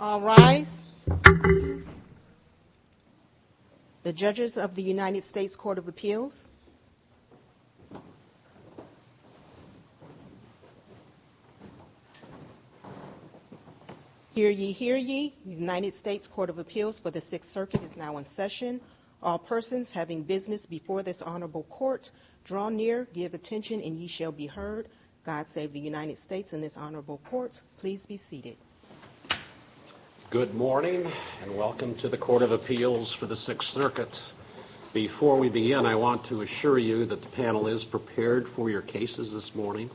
All rise. The judges of the United States Court of Appeals. Hear ye, hear ye. United States Court of Appeals for the Sixth Circuit is now in session. All persons having business before this honorable court, draw near, give attention, and ye shall be heard. God save the United States and this honorable court. Please be seated. Good morning and welcome to the Court of Appeals for the Sixth Circuit. Before we begin, I want to assure you that the panel is prepared for your cases this morning.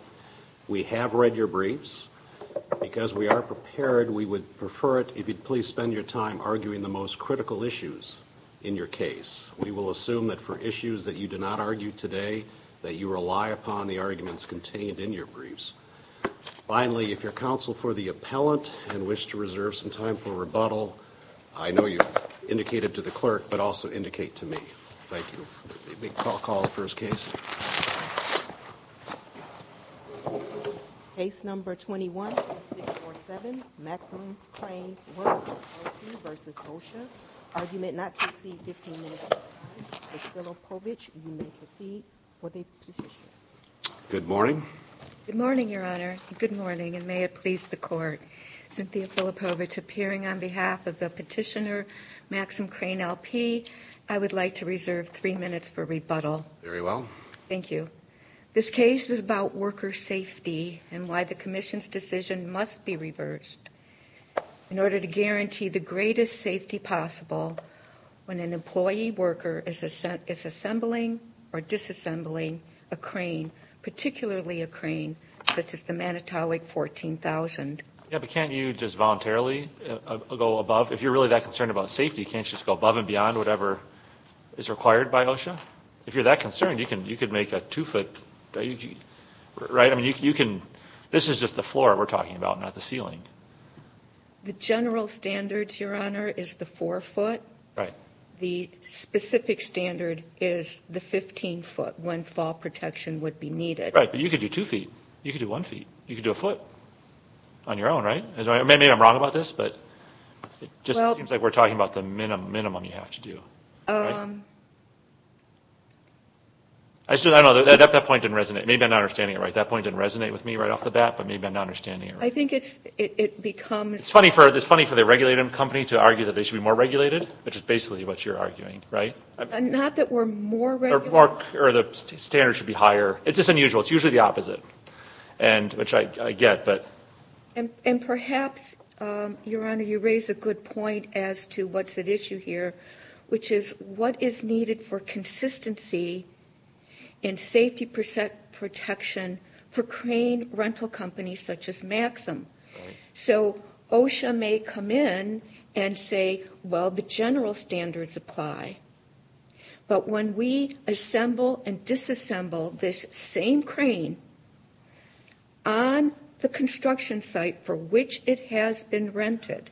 We have read your briefs. Because we are prepared, we would prefer it if you'd please spend your time arguing the most critical issues in your case. We will assume that for issues that you did not argue today, that you rely upon the arguments contained in your briefs. Finally, if your counsel for the appellant and wish to reserve some time for rebuttal, I know you indicated to the clerk, but also indicate to me. Thank you. Call the first case. Case number 21-647, Maxine Crane Works LP v. OSHA, argument not to exceed 15 minutes of time. Ms. Zillow-Povich, you may proceed for the petition. Good morning. Good morning, Your Honor. Good morning, and may it please the Court. Cynthia Filipovich appearing on behalf of the petitioner, Maxine Crane LP. I would like to reserve three minutes for rebuttal. Very well. Thank you. This case is about worker safety and why the Commission's decision must be reversed in order to guarantee the greatest safety possible when an employee worker is assembling or disassembling a crane, particularly a crane such as the Manitowoc 14,000. Yeah, but can't you just voluntarily go above? If you're really that concerned about safety, can't you just go above and beyond whatever is required by OSHA? If you're that concerned, you could make a two-foot, right? This is just the floor we're talking about, not the ceiling. The general standard, Your Honor, is the four-foot. The specific standard is the 15-foot when fall protection would be needed. You could do two feet. You could do one feet. You could do a foot on your own, right? Maybe I'm wrong about this, but it just seems like we're talking about the minimum you have to do. I don't know. That point didn't resonate. Maybe I'm not understanding it right. That point didn't resonate with me right off the bat, but maybe I'm not understanding it right. I think it becomes... It's funny for the regulated company to argue that they should be more regulated, which is basically what you're arguing, right? Not that we're more regulated. Or the standard should be higher. It's just unusual. It's usually the opposite, which I get. And perhaps, Your Honor, you raise a good point as to what's at issue here, which is system. So OSHA may come in and say, well, the general standards apply, but when we assemble and disassemble this same crane on the construction site for which it has been rented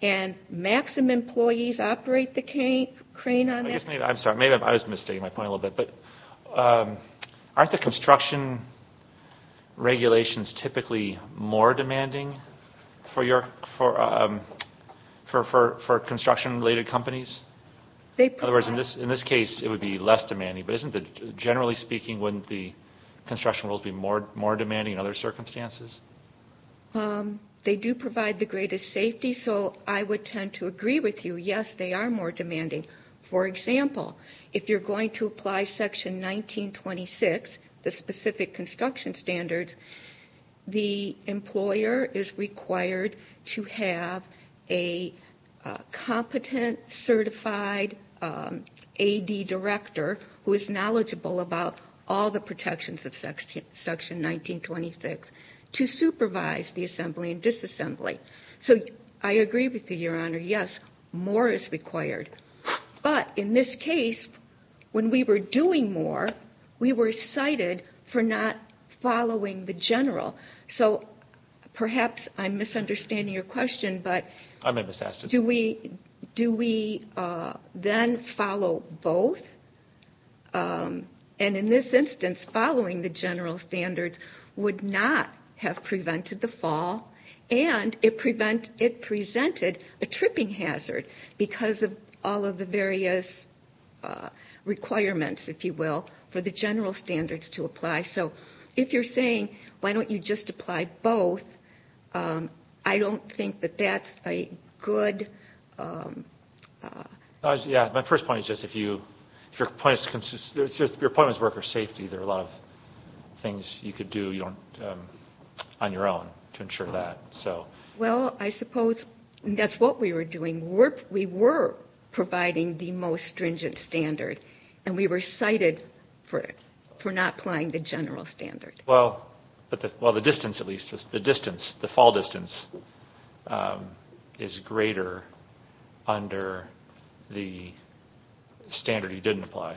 and maximum employees operate the crane on that... I'm sorry. Maybe I was mistaking my point a little bit, but aren't the construction regulations typically more demanding for construction-related companies? In other words, in this case, it would be less demanding. But generally speaking, wouldn't the construction rules be more demanding in other circumstances? They do provide the greatest safety, so I would tend to agree with you. Yes, they are more demanding. For example, if you're going to apply Section 1926, the specific construction standards, the employer is required to have a competent, certified AD director who is knowledgeable about all the protections of Section 1926 to supervise the assembly and disassembly. So I agree with you, Your Honor, yes, more is required. But in this case, when we were doing more, we were cited for not following the general. So perhaps I'm misunderstanding your question, but do we then follow both? And in this instance, following the general standards would not have prevented the fall, and it presented a tripping hazard because of all of the various requirements, if you will, for the general standards to apply. So if you're saying, why don't you just apply both, I don't think that that's a good... Yeah, my first point is just if your appointments work for safety, there are a lot of things you could do on your own to ensure that. Well, I suppose that's what we were doing. We were providing the most stringent standard, and we were cited for not applying the general standard. Well, the distance at least, the fall distance is greater under the standard you didn't apply.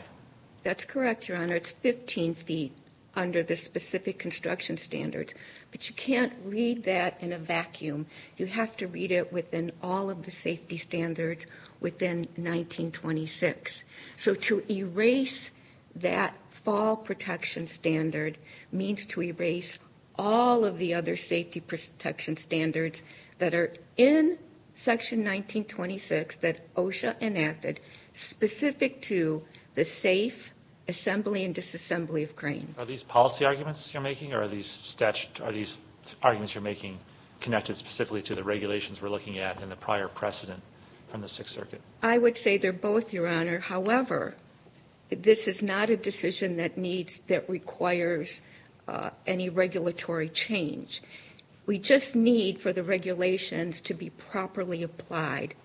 That's correct, Your Honor. It's 15 feet under the specific construction standards, but you can't read that in a vacuum. You have to read it within all of the safety standards within 1926. So to erase that fall protection standard means to erase all of the other safety protection standards that are in Section 1926 that OSHA enacted specific to the safe assembly and disassembly of cranes. Are these policy arguments you're making, or are these arguments you're making connected specifically to the regulations we're looking at and the prior precedent from the Sixth Circuit? I would say they're both, Your Honor. However, this is not a decision that requires any regulatory change. We just need for the regulations to be properly applied.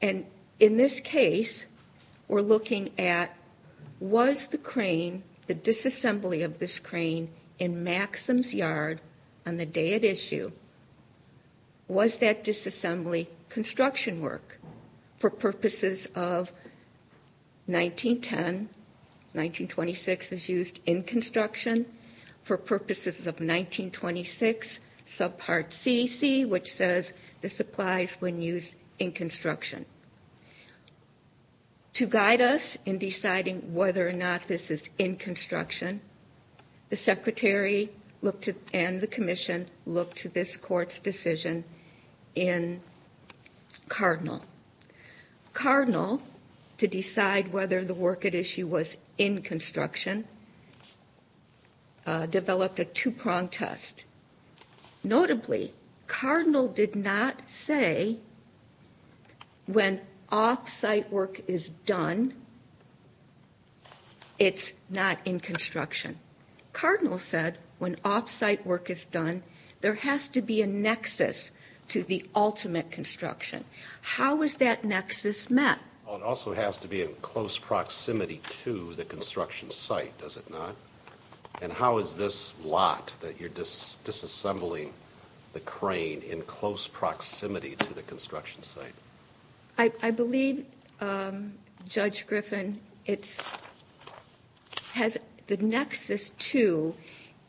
And in this case, we're looking at was the crane, the disassembly of this crane in Maxim's Yard on the day at issue, was that disassembly construction work for purposes of 1910? 1926 is used in construction for purposes of 1926 subpart CC, which says this applies when used in construction. To guide us in deciding whether or not this is in construction, the Secretary and the Commission look Cardinal, to decide whether the work at issue was in construction, developed a two-pronged test. Notably, Cardinal did not say when off-site work is done, it's not in construction. Cardinal said when off-site work is done, there has to be a nexus to the ultimate construction. How is that nexus met? It also has to be in close proximity to the construction site, does it not? And how is this lot that you're disassembling the crane in close proximity to the construction site? I believe, Judge Griffin, the nexus, too,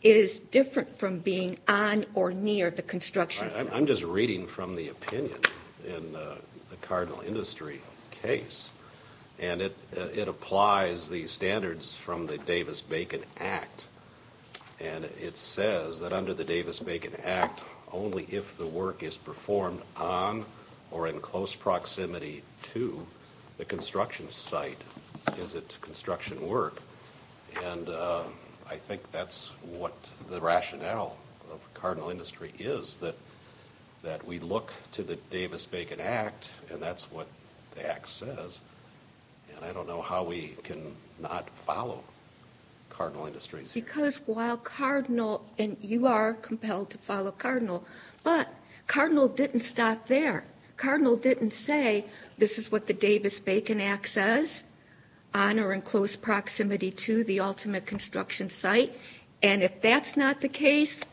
is different from being on or near the construction site. I'm just reading from the opinion in the Cardinal Industry case. And it applies the standards from the Davis-Bacon Act. And it says that under the Davis-Bacon Act, only if the work is performed on or in close proximity to the construction site is it construction work. And I think that's what the rationale of Cardinal Industry is, that we look to the Davis-Bacon Act, and that's what the Act says, and I don't know how we can not follow Cardinal Industries. Because while Cardinal, and you are compelled to follow Cardinal, but Cardinal didn't stop there. Cardinal didn't say, this is what the Davis-Bacon Act says, on or in close proximity to the ultimate construction site. And if that's not the case,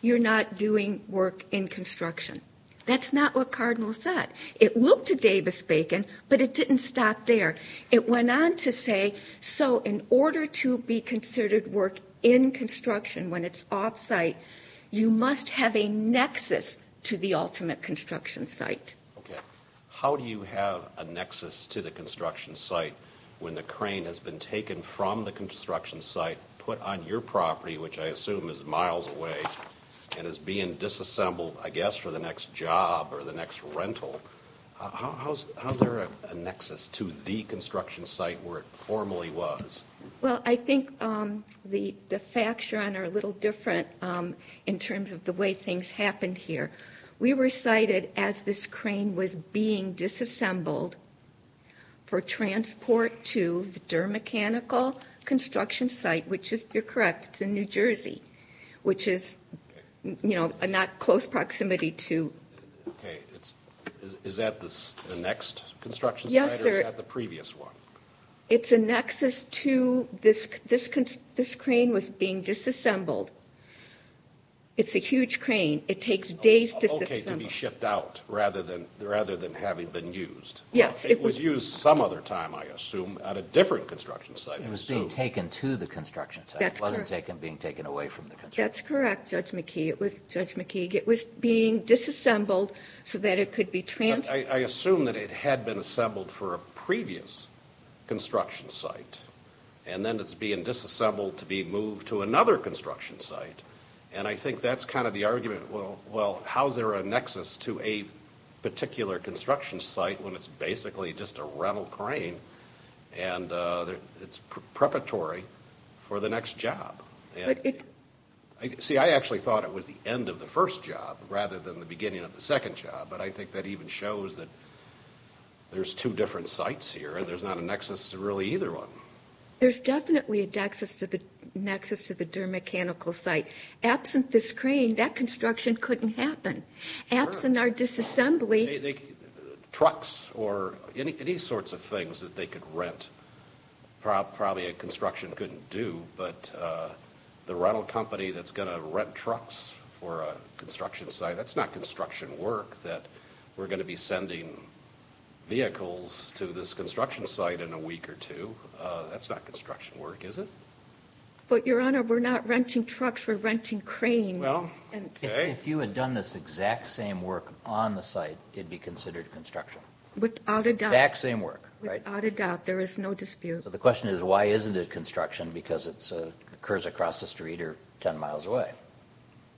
you're not doing work in construction. That's not what Cardinal said. It looked to Davis-Bacon, but it didn't stop there. It went on to say, so in order to be considered work in construction when it's off site, you must have a nexus to the ultimate construction site. Okay, how do you have a nexus to the construction site when the crane has been taken from the construction site, put on your property, which I assume is miles away, and is being disassembled, I guess, for the next job or the next rental? How's there a nexus to the construction site where it formerly was? Well, I think the facts you're on are a little different in terms of the way things happened here. We were cited as this crane was being disassembled for transport to the Durr Mechanical construction site, which is, you're correct, it's in New Jersey, which is not close proximity to. Okay, is that the next construction site or is that the previous one? It's a nexus to, this crane was being disassembled. It's a huge crane. It takes days to- Okay, to be shipped out, rather than having been used. Yes, it was- It was used some other time, I assume, at a different construction site. It was being taken to the construction site. That's correct. It wasn't being taken away from the construction site. That's correct, Judge McKee. It was, Judge McKee, it was being disassembled so that it could be transported. I assume that it had been assembled for a previous construction site, and then it's being disassembled to be moved to another construction site. And I think that's kind of the argument, well, how's there a nexus to a particular construction site when it's basically just a rental crane and it's preparatory for the next job? See, I actually thought it was the end of the first job rather than the beginning of the second job, but I think that even shows that there's two different sites here, and there's not a nexus to really either one. There's definitely a nexus to the DER mechanical site. Absent this crane, that construction couldn't happen. Absent our disassembly- Trucks or any sorts of things that they could rent, probably a construction couldn't do, but the rental company that's going to rent trucks for a construction site, that's not construction work that we're going to be sending vehicles to this construction site in a week or two. That's not construction work, is it? But, Your Honor, we're not renting trucks, we're renting cranes. If you had done this exact same work on the site, it'd be considered construction. Without a doubt. Exact same work. Without a doubt, there is no dispute. So the question is, why isn't it construction? Because it occurs across the street or 10 miles away.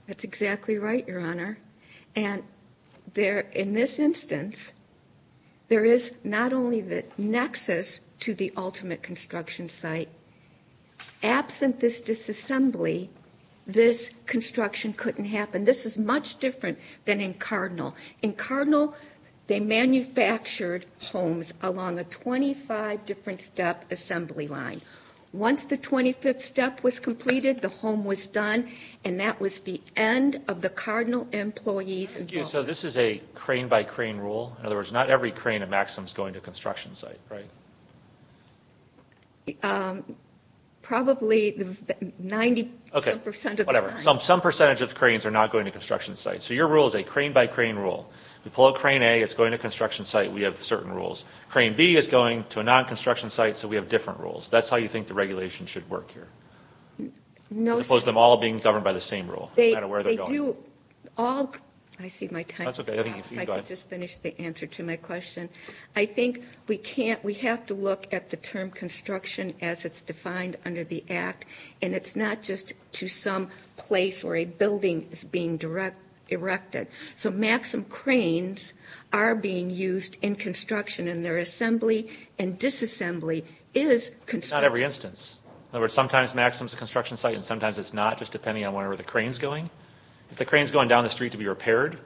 That's exactly right, Your Honor. And in this instance, there is not only the nexus to the ultimate construction site. Absent this disassembly, this construction couldn't happen. This is much different than in Cardinal. In Cardinal, they manufactured homes along a 25-different-step assembly line. Once the 25th step was completed, the home was done. And that was the end of the Cardinal employees involved. So this is a crane-by-crane rule? In other words, not every crane at Maxim is going to a construction site, right? Probably 90% of the time. Okay, whatever. Some percentage of the cranes are not going to construction sites. So your rule is a crane-by-crane rule. We pull out crane A, it's going to a construction site, we have certain rules. Crane B is going to a non-construction site, so we have different rules. That's how you think the regulation should work here? No, sir. As opposed to them all being governed by the same rule, no matter where they're going? They do all... I see my time is up. That's okay. You go ahead. If I could just finish the answer to my question. I think we have to look at the term construction as it's defined under the Act. And it's not just to some place where a building is being erected. So Maxim cranes are being used in construction. And their assembly and disassembly is construction. Not every instance. In other words, sometimes Maxim is a construction site and sometimes it's not, just depending on where the crane is going. If the crane is going down the street to be repaired,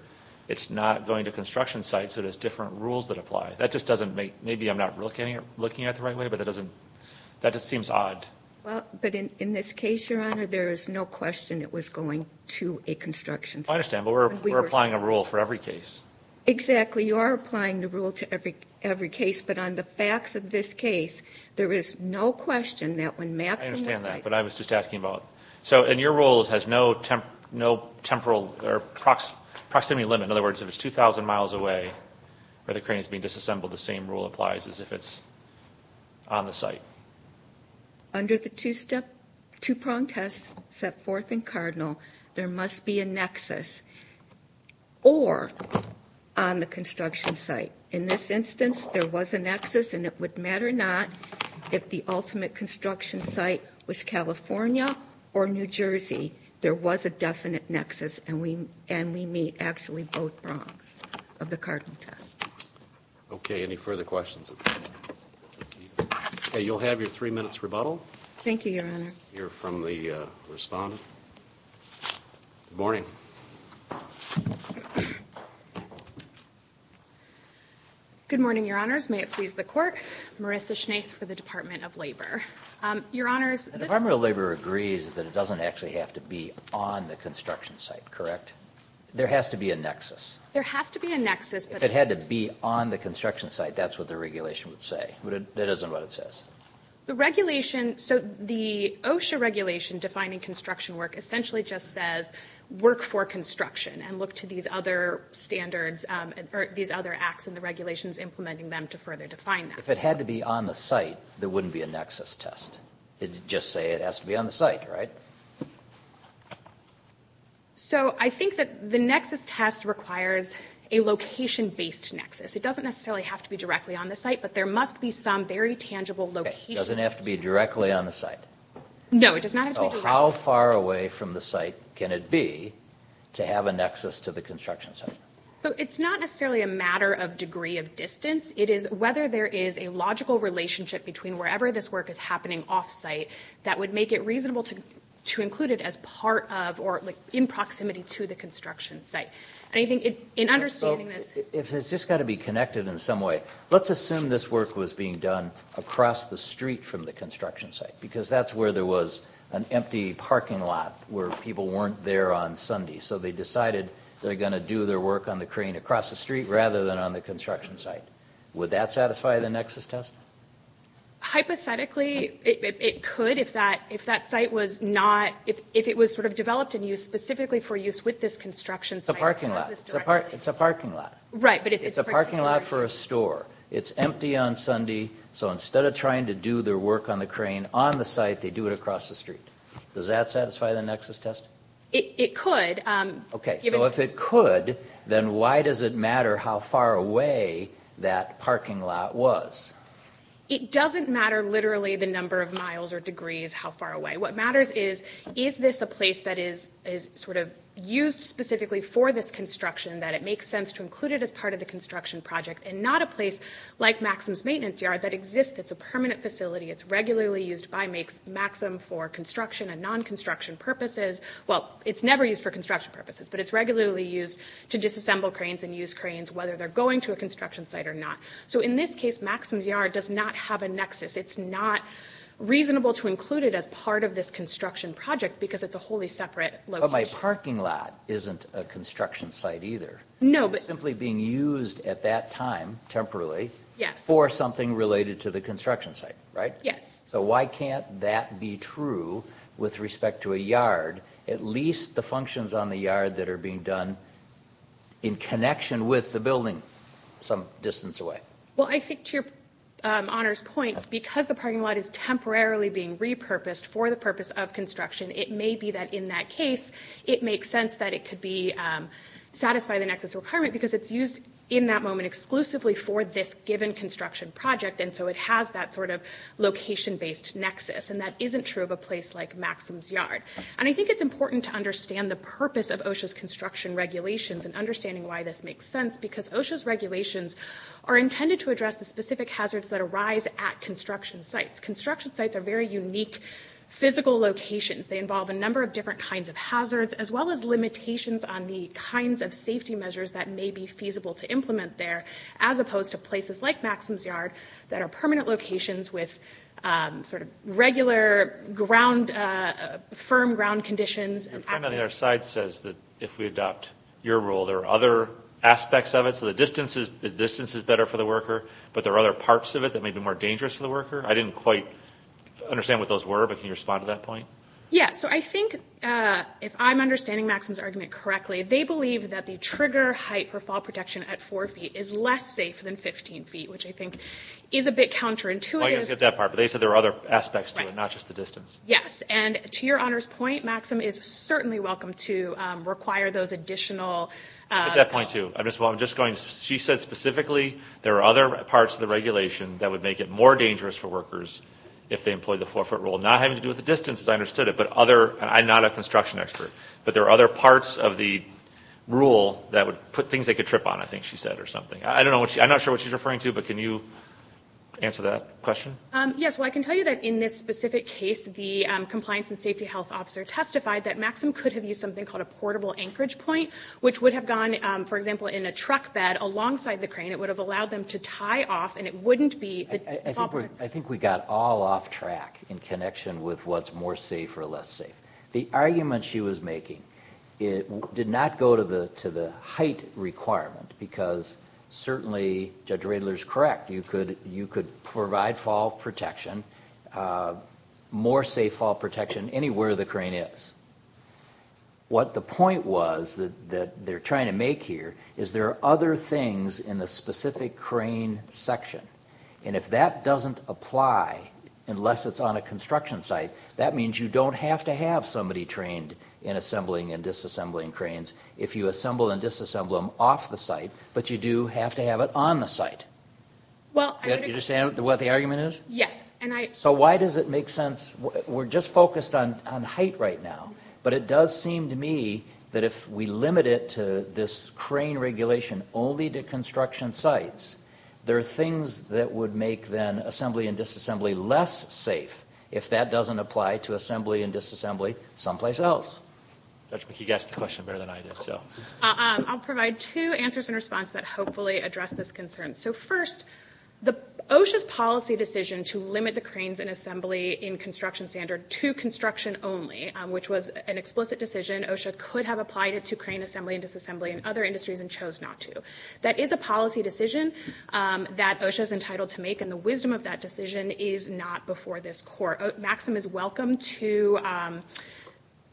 it's not going to a construction site, so there's different rules that apply. That just doesn't make... Maybe I'm not looking at it the right way, but that just seems odd. Well, but in this case, Your Honor, there is no question it was going to a construction site. I understand, but we're applying a rule for every case. Exactly. We are applying the rule to every case, but on the facts of this case, there is no question that when Maxim... I understand that, but I was just asking about... So, and your rule has no temporal or proximity limit. In other words, if it's 2,000 miles away where the crane is being disassembled, the same rule applies as if it's on the site. Under the two-prong test set forth in Cardinal, there must be a nexus. Or, on the construction site. In this instance, there was a nexus, and it would matter not if the ultimate construction site was California or New Jersey, there was a definite nexus, and we meet actually both prongs of the Cardinal test. Okay, any further questions? Okay, you'll have your three minutes rebuttal. Thank you, Your Honor. We'll hear from the respondent. Good morning. Good morning, Your Honors. May it please the Court. Marissa Schnaith for the Department of Labor. Your Honors, this... The Department of Labor agrees that it doesn't actually have to be on the construction site, correct? There has to be a nexus. There has to be a nexus, but... If it had to be on the construction site, that's what the regulation would say, but that isn't what it says. The regulation... So, the OSHA regulation defining construction work essentially just says, work for construction and look to these other standards, or these other acts in the regulations implementing them to further define them. If it had to be on the site, there wouldn't be a nexus test. It'd just say it has to be on the site, right? So, I think that the nexus test requires a location-based nexus. It doesn't necessarily have to be directly on the site, but there must be some very tangible location. It doesn't have to be directly on the site? No, it does not have to be directly on the site. So, how far away from the site can it be to have a nexus to the construction site? So, it's not necessarily a matter of degree of distance. It is whether there is a logical relationship between wherever this work is happening off-site that would make it reasonable to include it as part of, or in proximity to the construction site. And I think in understanding this... If it's just got to be connected in some way, let's assume this work was being done across the street from the construction site, because that's where there was an empty parking lot where people weren't there on Sundays. So, they decided they're going to do their work on the crane across the street rather than on the construction site. Would that satisfy the nexus test? Hypothetically, it could if that site was not... If it was sort of developed and used specifically for use with this construction site... It's a parking lot. It's a parking lot. Right, but it's... It's a parking lot for a store. It's empty on Sunday. So, instead of trying to do their work on the crane on the site, they do it across the street. Does that satisfy the nexus test? It could. Okay. So, if it could, then why does it matter how far away that parking lot was? It doesn't matter literally the number of miles or degrees how far away. What matters is, is this a place that is sort of used specifically for this construction that it makes sense to include it as part of the construction project and not a place like Maxim's Maintenance Yard that exists. It's a permanent facility. It's regularly used by Maxim for construction and non-construction purposes. Well, it's never used for construction purposes, but it's regularly used to disassemble cranes and use cranes whether they're going to a construction site or not. So, in this case, Maxim's Yard does not have a nexus. It's not reasonable to include it as part of this construction project because it's a wholly separate location. But the parking lot isn't a construction site either. It's simply being used at that time, temporarily, for something related to the construction site, right? Yes. So, why can't that be true with respect to a yard? At least the functions on the yard that are being done in connection with the building some distance away. Well, I think to your honor's point, because the parking lot is temporarily being repurposed for the purpose of construction, it may be that in that case, it makes sense that it could satisfy the nexus requirement because it's used in that moment exclusively for this given construction project. And so, it has that sort of location-based nexus. And that isn't true of a place like Maxim's Yard. And I think it's important to understand the purpose of OSHA's construction regulations and understanding why this makes sense because OSHA's regulations are intended to address the specific hazards that arise at construction sites. Construction sites are very unique physical locations. They involve a number of different kinds of hazards, as well as limitations on the kinds of safety measures that may be feasible to implement there, as opposed to places like Maxim's Yard that are permanent locations with sort of regular firm ground conditions and access. Your friend on the other side says that if we adopt your rule, there are other aspects of it. So, the distance is better for the worker, but there are other parts of it that may be more dangerous for the worker. I didn't quite understand what those were, but can you respond to that point? Yeah. So, I think if I'm understanding Maxim's argument correctly, they believe that the trigger height for fall protection at four feet is less safe than 15 feet, which I think is a bit counterintuitive. Oh, you guys get that part. But they said there are other aspects to it, not just the distance. Right. Yes. And to your honor's point, Maxim is certainly welcome to require those additional... At that point, too. Ms. Wall, I'm just going to... She said specifically there are other parts of the regulation that would make it more safe for workers if they employed the four foot rule. Not having to do with the distance, as I understood it, but other... I'm not a construction expert, but there are other parts of the rule that would put things they could trip on, I think she said, or something. I don't know what she... I'm not sure what she's referring to, but can you answer that question? Yes. Well, I can tell you that in this specific case, the compliance and safety health officer testified that Maxim could have used something called a portable anchorage point, which would have gone, for example, in a truck bed alongside the crane. It would have allowed them to tie off, and it wouldn't be... I think we got all off track in connection with what's more safe or less safe. The argument she was making did not go to the height requirement, because certainly Judge Riedler's correct, you could provide fall protection, more safe fall protection anywhere the crane is. What the point was that they're trying to make here is there are other things in the That doesn't apply unless it's on a construction site. That means you don't have to have somebody trained in assembling and disassembling cranes if you assemble and disassemble them off the site, but you do have to have it on the site. Do you understand what the argument is? Yes. So why does it make sense... We're just focused on height right now, but it does seem to me that if we limit it to this crane regulation only to construction sites, there are things that would make then assembly and disassembly less safe if that doesn't apply to assembly and disassembly someplace else. Judge McKee guessed the question better than I did, so... I'll provide two answers in response that hopefully address this concern. So first, OSHA's policy decision to limit the cranes in assembly in construction standard to construction only, which was an explicit decision. OSHA could have applied it to crane assembly and disassembly in other industries and chose not to. That is a policy decision that OSHA is entitled to make, and the wisdom of that decision is not before this Court. Maxim is welcome to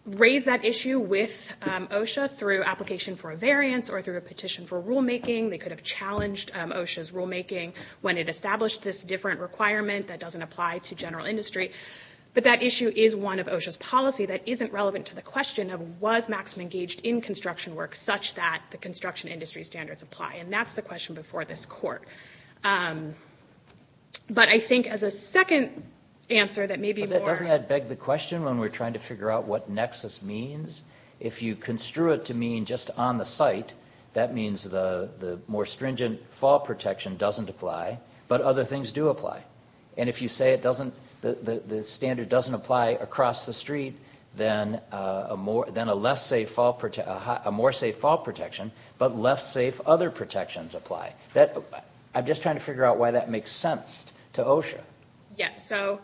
raise that issue with OSHA through application for a variance or through a petition for rulemaking. They could have challenged OSHA's rulemaking when it established this different requirement that doesn't apply to general industry, but that issue is one of OSHA's policy that isn't relevant to the question of, was Maxim engaged in construction work such that the construction industry standards apply? And that's the question before this Court. But I think as a second answer that maybe more... Doesn't that beg the question when we're trying to figure out what nexus means? If you construe it to mean just on the site, that means the more stringent fall protection doesn't apply, but other things do apply. And if you say the standard doesn't apply across the street, then a more safe fall protection, but less safe other protections apply. I'm just trying to figure out why that makes sense to OSHA. Yes. So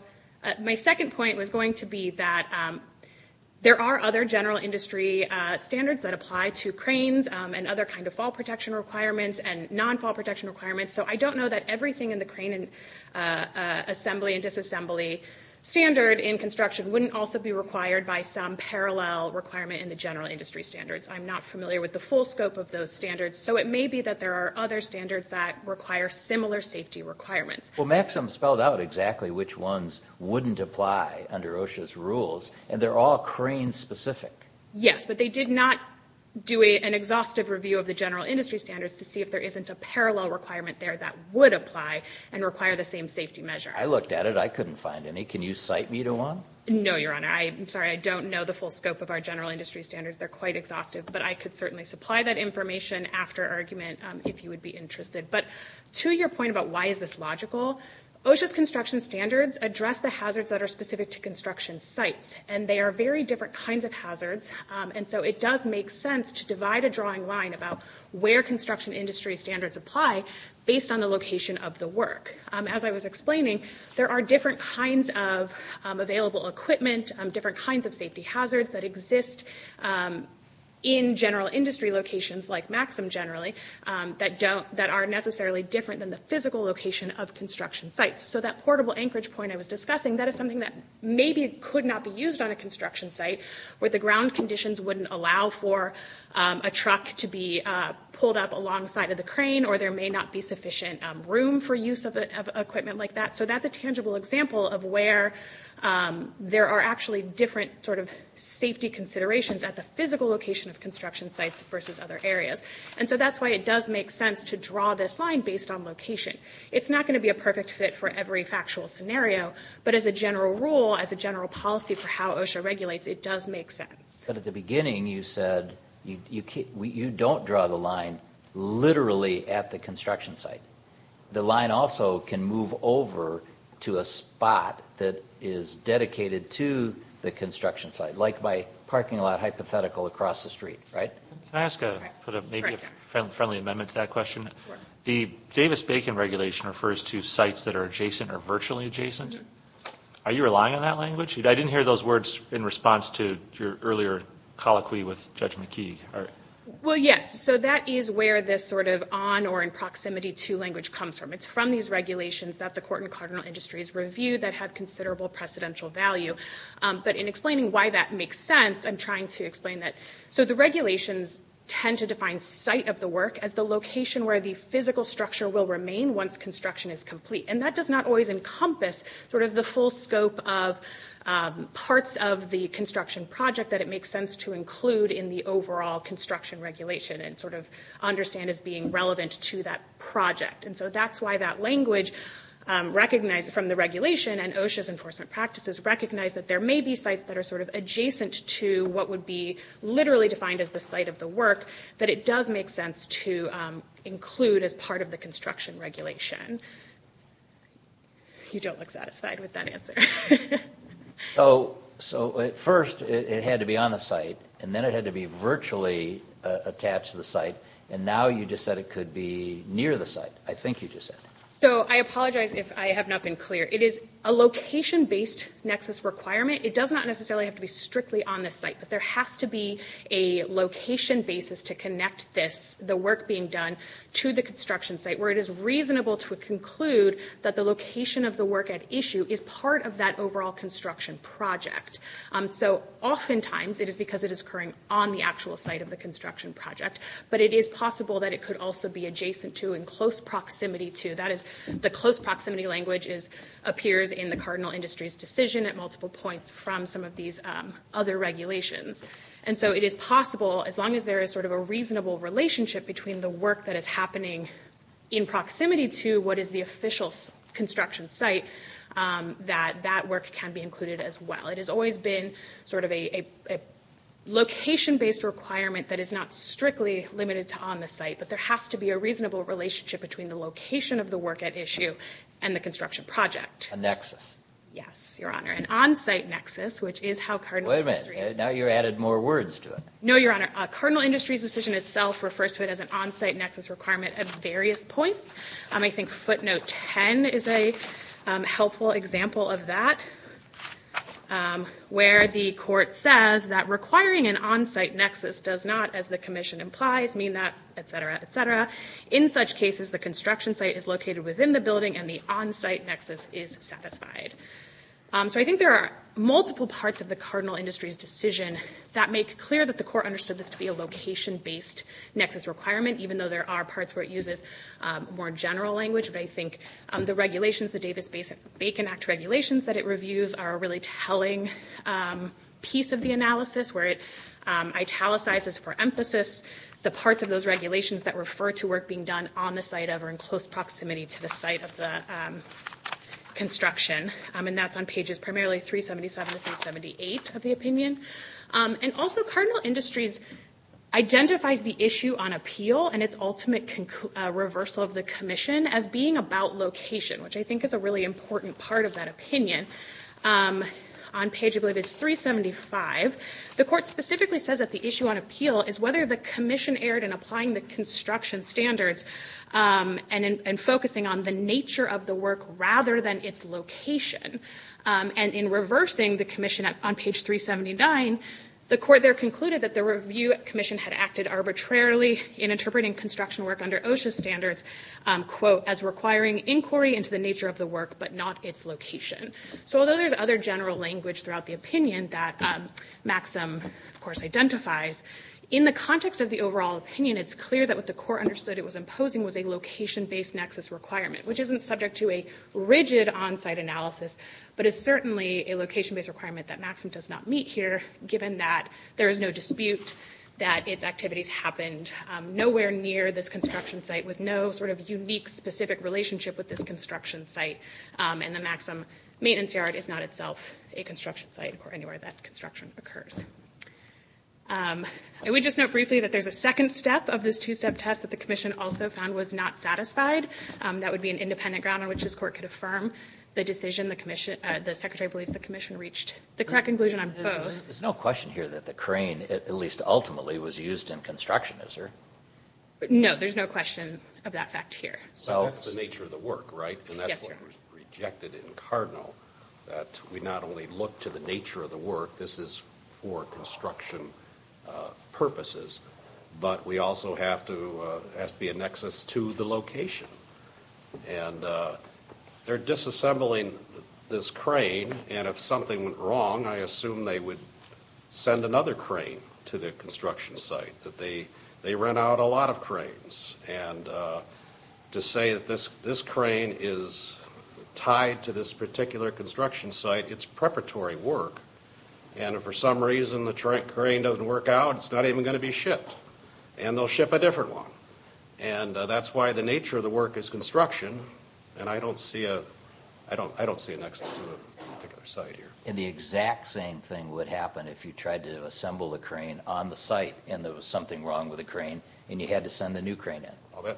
my second point was going to be that there are other general industry standards that apply to cranes and other kind of fall protection requirements and non-fall protection requirements. So I don't know that everything in the crane assembly and disassembly standard in construction wouldn't also be required by some parallel requirement in the general industry standards. I'm not familiar with the full scope of those standards. So it may be that there are other standards that require similar safety requirements. Well, Maxim spelled out exactly which ones wouldn't apply under OSHA's rules, and they're all crane-specific. Yes, but they did not do an exhaustive review of the general industry standards to see if there isn't a parallel requirement there that would apply and require the same safety measure. I looked at it. I couldn't find any. Can you cite me to one? No, Your Honor. I'm sorry. I don't know the full scope of our general industry standards. They're quite exhaustive. But I could certainly supply that information after argument if you would be interested. But to your point about why is this logical, OSHA's construction standards address the hazards that are specific to construction sites, and they are very different kinds of hazards. And so it does make sense to divide a drawing line about where construction industry standards apply based on the location of the work. As I was explaining, there are different kinds of available equipment, different kinds of safety hazards that exist in general industry locations like Maxim generally that are necessarily different than the physical location of construction sites. So that portable anchorage point I was discussing, that is something that maybe could not be used on a construction site where the ground conditions wouldn't allow for a truck to be pulled up alongside of the crane or there may not be sufficient room for use of equipment like that. So that's a tangible example of where there are actually different sort of safety considerations at the physical location of construction sites versus other areas. And so that's why it does make sense to draw this line based on location. It's not going to be a perfect fit for every factual scenario, but as a general rule, as a general policy for how OSHA regulates, it does make sense. But at the beginning you said you don't draw the line literally at the construction site. The line also can move over to a spot that is dedicated to the construction site, like by parking a lot hypothetical across the street, right? Can I ask maybe a friendly amendment to that question? Sure. The Davis-Bacon regulation refers to sites that are adjacent or virtually adjacent. Are you relying on that language? I didn't hear those words in response to your earlier colloquy with Judge McKee. Well, yes. So that is where this sort of on or in proximity to language comes from. It's from these regulations that the court and cardinal industries review that have considerable precedential value. But in explaining why that makes sense, I'm trying to explain that so the regulations tend to define site of the work as the location where the physical structure will remain once construction is complete. And that does not always encompass sort of the full scope of parts of the construction project that it makes sense to include in the overall construction regulation and sort of understand as being relevant to that project. And so that's why that language, recognized from the regulation and OSHA's enforcement practices, recognize that there may be sites that are sort of adjacent to what would be literally defined as the site of the work that it does make sense to include as part of the construction regulation. You don't look satisfied with that answer. So at first it had to be on the site and then it had to be virtually attached to the site and now you just said it could be near the site. I think you just said that. So I apologize if I have not been clear. It is a location-based nexus requirement. It does not necessarily have to be strictly on the site but there has to be a location basis to connect this, the work being done, to the construction site where it is reasonable to conclude that the location of the work at issue is part of that overall construction project. So oftentimes it is because it is occurring on the actual site of the construction project but it is possible that it could also be adjacent to and close proximity to. That is, the close proximity language appears in the cardinal industry's decision at multiple points from some of these other regulations. So it is possible, as long as there is a reasonable relationship between the work that is happening in proximity to what is the official construction site that that work can be included as well. It has always been a location-based requirement that is not strictly limited to on the site but there has to be a reasonable relationship between the location of the work at issue and the construction project. A nexus. Yes, Your Honor, an on-site nexus. Wait a minute, now you added more words to it. No, Your Honor, cardinal industry's decision itself refers to it as an on-site nexus requirement at various points. I think footnote 10 is a helpful example of that where the court says that requiring an on-site nexus does not, as the commission implies, mean that, et cetera, et cetera. In such cases, the construction site is located within the building and the on-site nexus is satisfied. So I think there are multiple parts of the cardinal industry's decision that make clear that the court understood this to be a location-based nexus requirement even though there are parts where it uses more general language. But I think the regulations, the Davis-Bacon Act regulations that it reviews are a really telling piece of the analysis where it italicizes for emphasis the parts of those regulations that refer to work being done on the site or in close proximity to the site of the construction. And that's on pages primarily 377 to 378 of the opinion. And also cardinal industries identifies the issue on appeal and its ultimate reversal of the commission as being about location which I think is a really important part of that opinion on page I believe it's 375. The court specifically says that the issue on appeal is whether the commission erred in applying the construction standards and focusing on the nature of the work rather than its location. And in reversing the commission on page 379 the court there concluded that the review commission had acted arbitrarily in interpreting construction work under OSHA standards as requiring inquiry into the nature of the work but not its location. So although there's other general language throughout the opinion that Maxim of course identifies in the context of the overall opinion it's clear that what the court understood it was imposing was a location-based nexus requirement which isn't subject to a rigid on-site analysis but is certainly a location-based requirement that Maxim does not meet here given that there is no dispute that its activities happened nowhere near this construction site with no sort of unique specific relationship with this construction site and the Maxim maintenance yard is not itself a construction site or anywhere that construction occurs. I would just note briefly that there's a second step of this two-step test that the commission also found was not satisfied. That would be an independent ground on which this court could affirm the decision that the commission reached the correct conclusion on both. There's no question here that the crane at least ultimately was used in construction, is there? No, there's no question of that fact here. So that's the nature of the work, right? And that's what was rejected in Cardinal that we not only look to the nature of the work this is for construction purposes but we also have to be a nexus to the location and they're disassembling this crane and if something went wrong I assume they would send another crane to the construction site. They rent out a lot of cranes and to say that this crane is tied to this particular construction site it's preparatory work and if for some reason the crane doesn't work out it's not even going to be shipped and they'll ship a different one and that's why the nature of the work is construction and I don't see a nexus to a particular site here. And the exact same thing would happen if you tried to assemble a crane on the site and there was something wrong with the crane and you had to send a new crane in.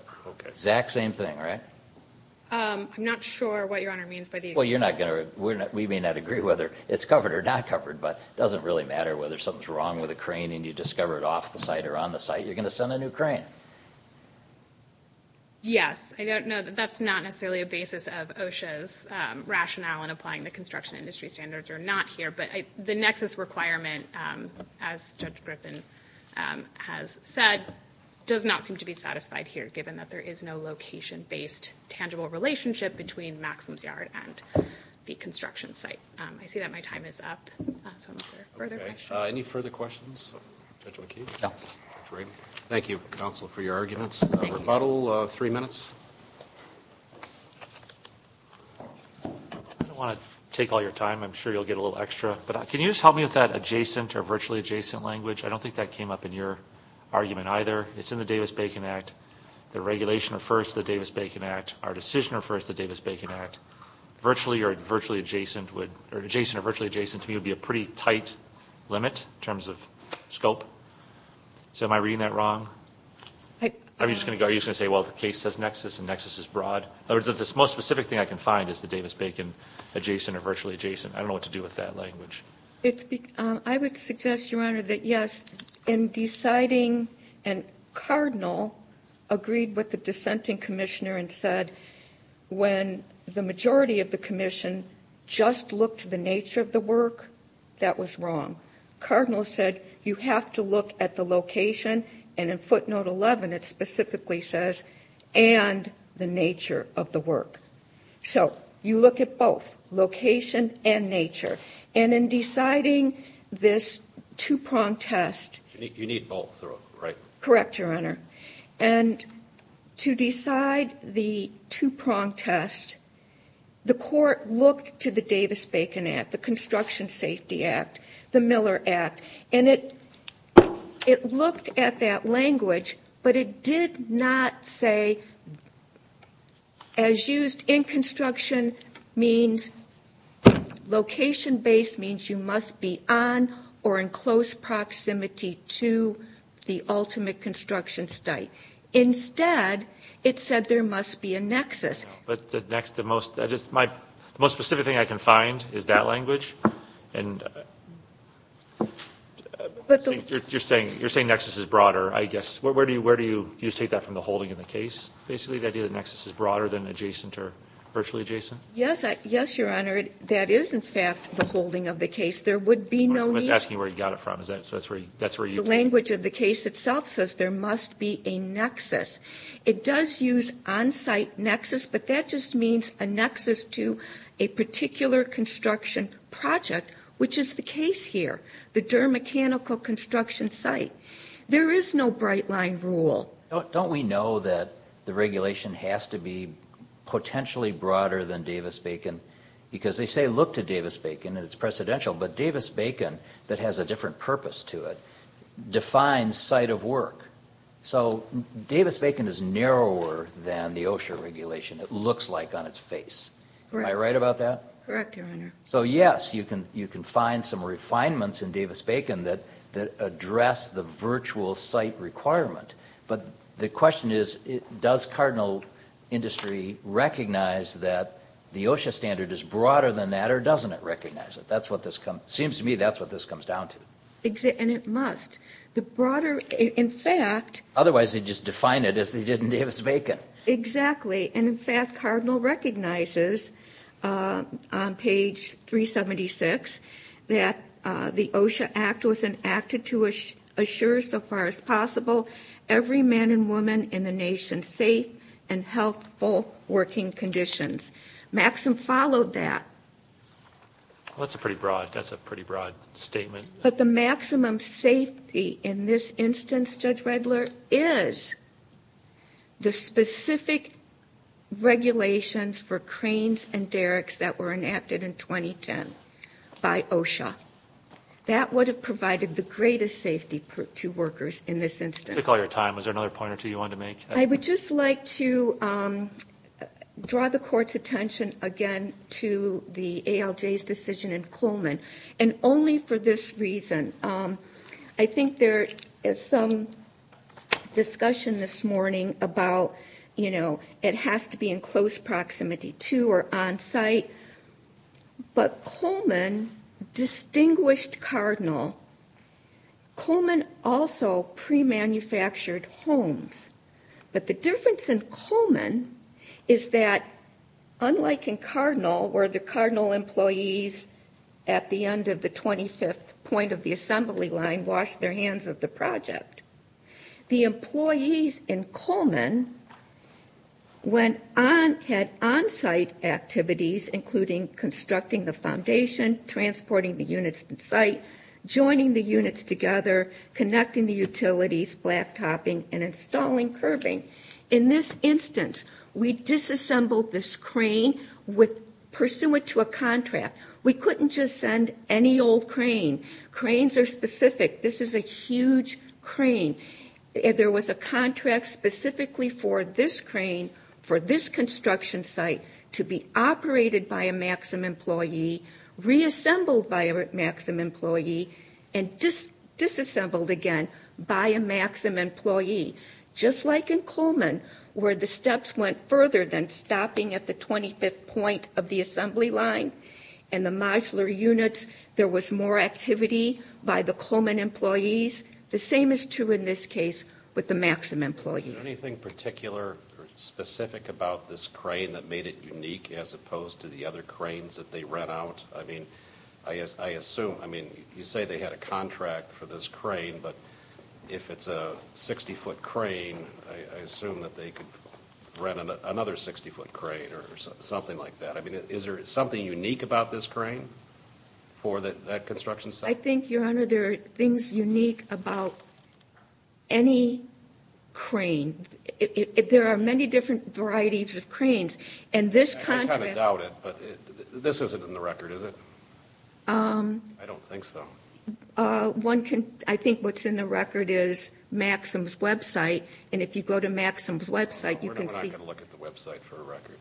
I'm not sure what Your Honor means by the exact same thing. We may not agree whether it's covered or not covered but it doesn't really matter whether something's wrong with the crane and you discover it off the site or on the site you're going to send a new crane. Yes, that's not necessarily a basis of OSHA's rationale in applying the construction industry standards or not here but the nexus requirement as Judge Griffin has said does not seem to be satisfied here given that there is no location-based tangible relationship between Maxim's Yard and the construction site. I see that my time is up. Any further questions? Thank you counsel for your arguments. Rebuttal, three minutes. I don't want to take all your time I'm sure you'll get a little extra but can you just help me with that adjacent or virtually adjacent language I don't think that came up in your argument either it's in the Davis-Bacon Act the regulation refers to the Davis-Bacon Act our decision refers to the Davis-Bacon Act adjacent or virtually adjacent to me would be a pretty tight limit in terms of scope so am I reading that wrong? Are you just going to say the case says nexus and nexus is broad the most specific thing I can find is the Davis-Bacon adjacent or virtually adjacent I don't know what to do with that language I would suggest that yes Cardinal agreed with the dissenting commissioner and said when the majority of the commission just looked at the nature of the work that was wrong Cardinal said you have to look at the location and in footnote 11 it specifically says and the nature of the work so you look at both location and nature and in deciding this two prong test you need both right correct your honor and to decide the two prong test the court looked to the Davis-Bacon Act the Construction Safety Act the Miller Act and it looked at that language but it did not say as used in construction location based means you must be on or in close proximity to the ultimate construction site instead it said there must be a nexus the most specific thing I can find is that language you're saying nexus is broader where do you take that from the holding of the case yes your honor that is in fact the holding of the case the language of the case itself says there must be a nexus it does use on-site nexus but that just means a nexus to a particular construction project which is the case here the Durham Mechanical Construction Site there is no bright line rule don't we know that the regulation has to be potentially broader than Davis-Bacon because they say look to Davis-Bacon but Davis-Bacon defines site of work so Davis-Bacon is narrower than the OSHA regulation am I right about that you can find some refinements that address the virtual site requirement but the question is does cardinal industry recognize that the OSHA standard is broader than that or doesn't it recognize it seems to me that's what this comes down to otherwise they just define it as they did in Davis-Bacon exactly and in fact cardinal recognizes on page 376 that the OSHA act was enacted to assure so far as possible every man and woman in the nation safe and healthful working conditions Maxim followed that that's a pretty broad statement but the maximum safety in this instance Judge Redler is the specific regulations for cranes and derricks that were enacted in 2010 by OSHA that would have provided the greatest safety to workers in this instance I would just like to draw the courts attention again to the ALJ's decision in Coleman and only for this reason I think there is some discussion this morning about it has to be in close proximity to or on site but Coleman distinguished Cardinal Coleman also pre-manufactured homes but the difference in Coleman is that unlike in Cardinal where the Cardinal employees at the end of the 25th point of the assembly line washed their hands of the project the employees in Coleman had on site activities including constructing the foundation transporting the units to site joining the units together connecting the utilities, black topping and installing curbing in this instance we disassembled this crane pursuant to a contract we couldn't just send any old crane cranes are specific this is a huge crane there was a contract specifically for this crane for this construction site to be operated by a Maxim employee reassembled by a Maxim employee and disassembled again by a Maxim employee just like in Coleman where the steps went further than stopping at the 25th point of the assembly line and the modular units there was more activity by the Coleman employees the same is true in this case with the Maxim employees is there anything particular or specific about this crane that made it unique as opposed to the other cranes that they rent out you say they had a contract for this crane but if it's a 60 foot crane I assume that they could rent another 60 foot crane or something like that is there something unique about this crane for that construction site I think there are things unique about any crane there are many different varieties of cranes I kind of doubt it but this isn't in the record is it I don't think so I think what's in the record is Maxim's website and if you go to Maxim's website we're not going to look at the website for a record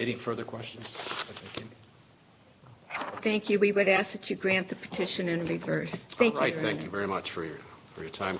any further questions thank you we would ask that you grant the petition in reverse thank you very much for your time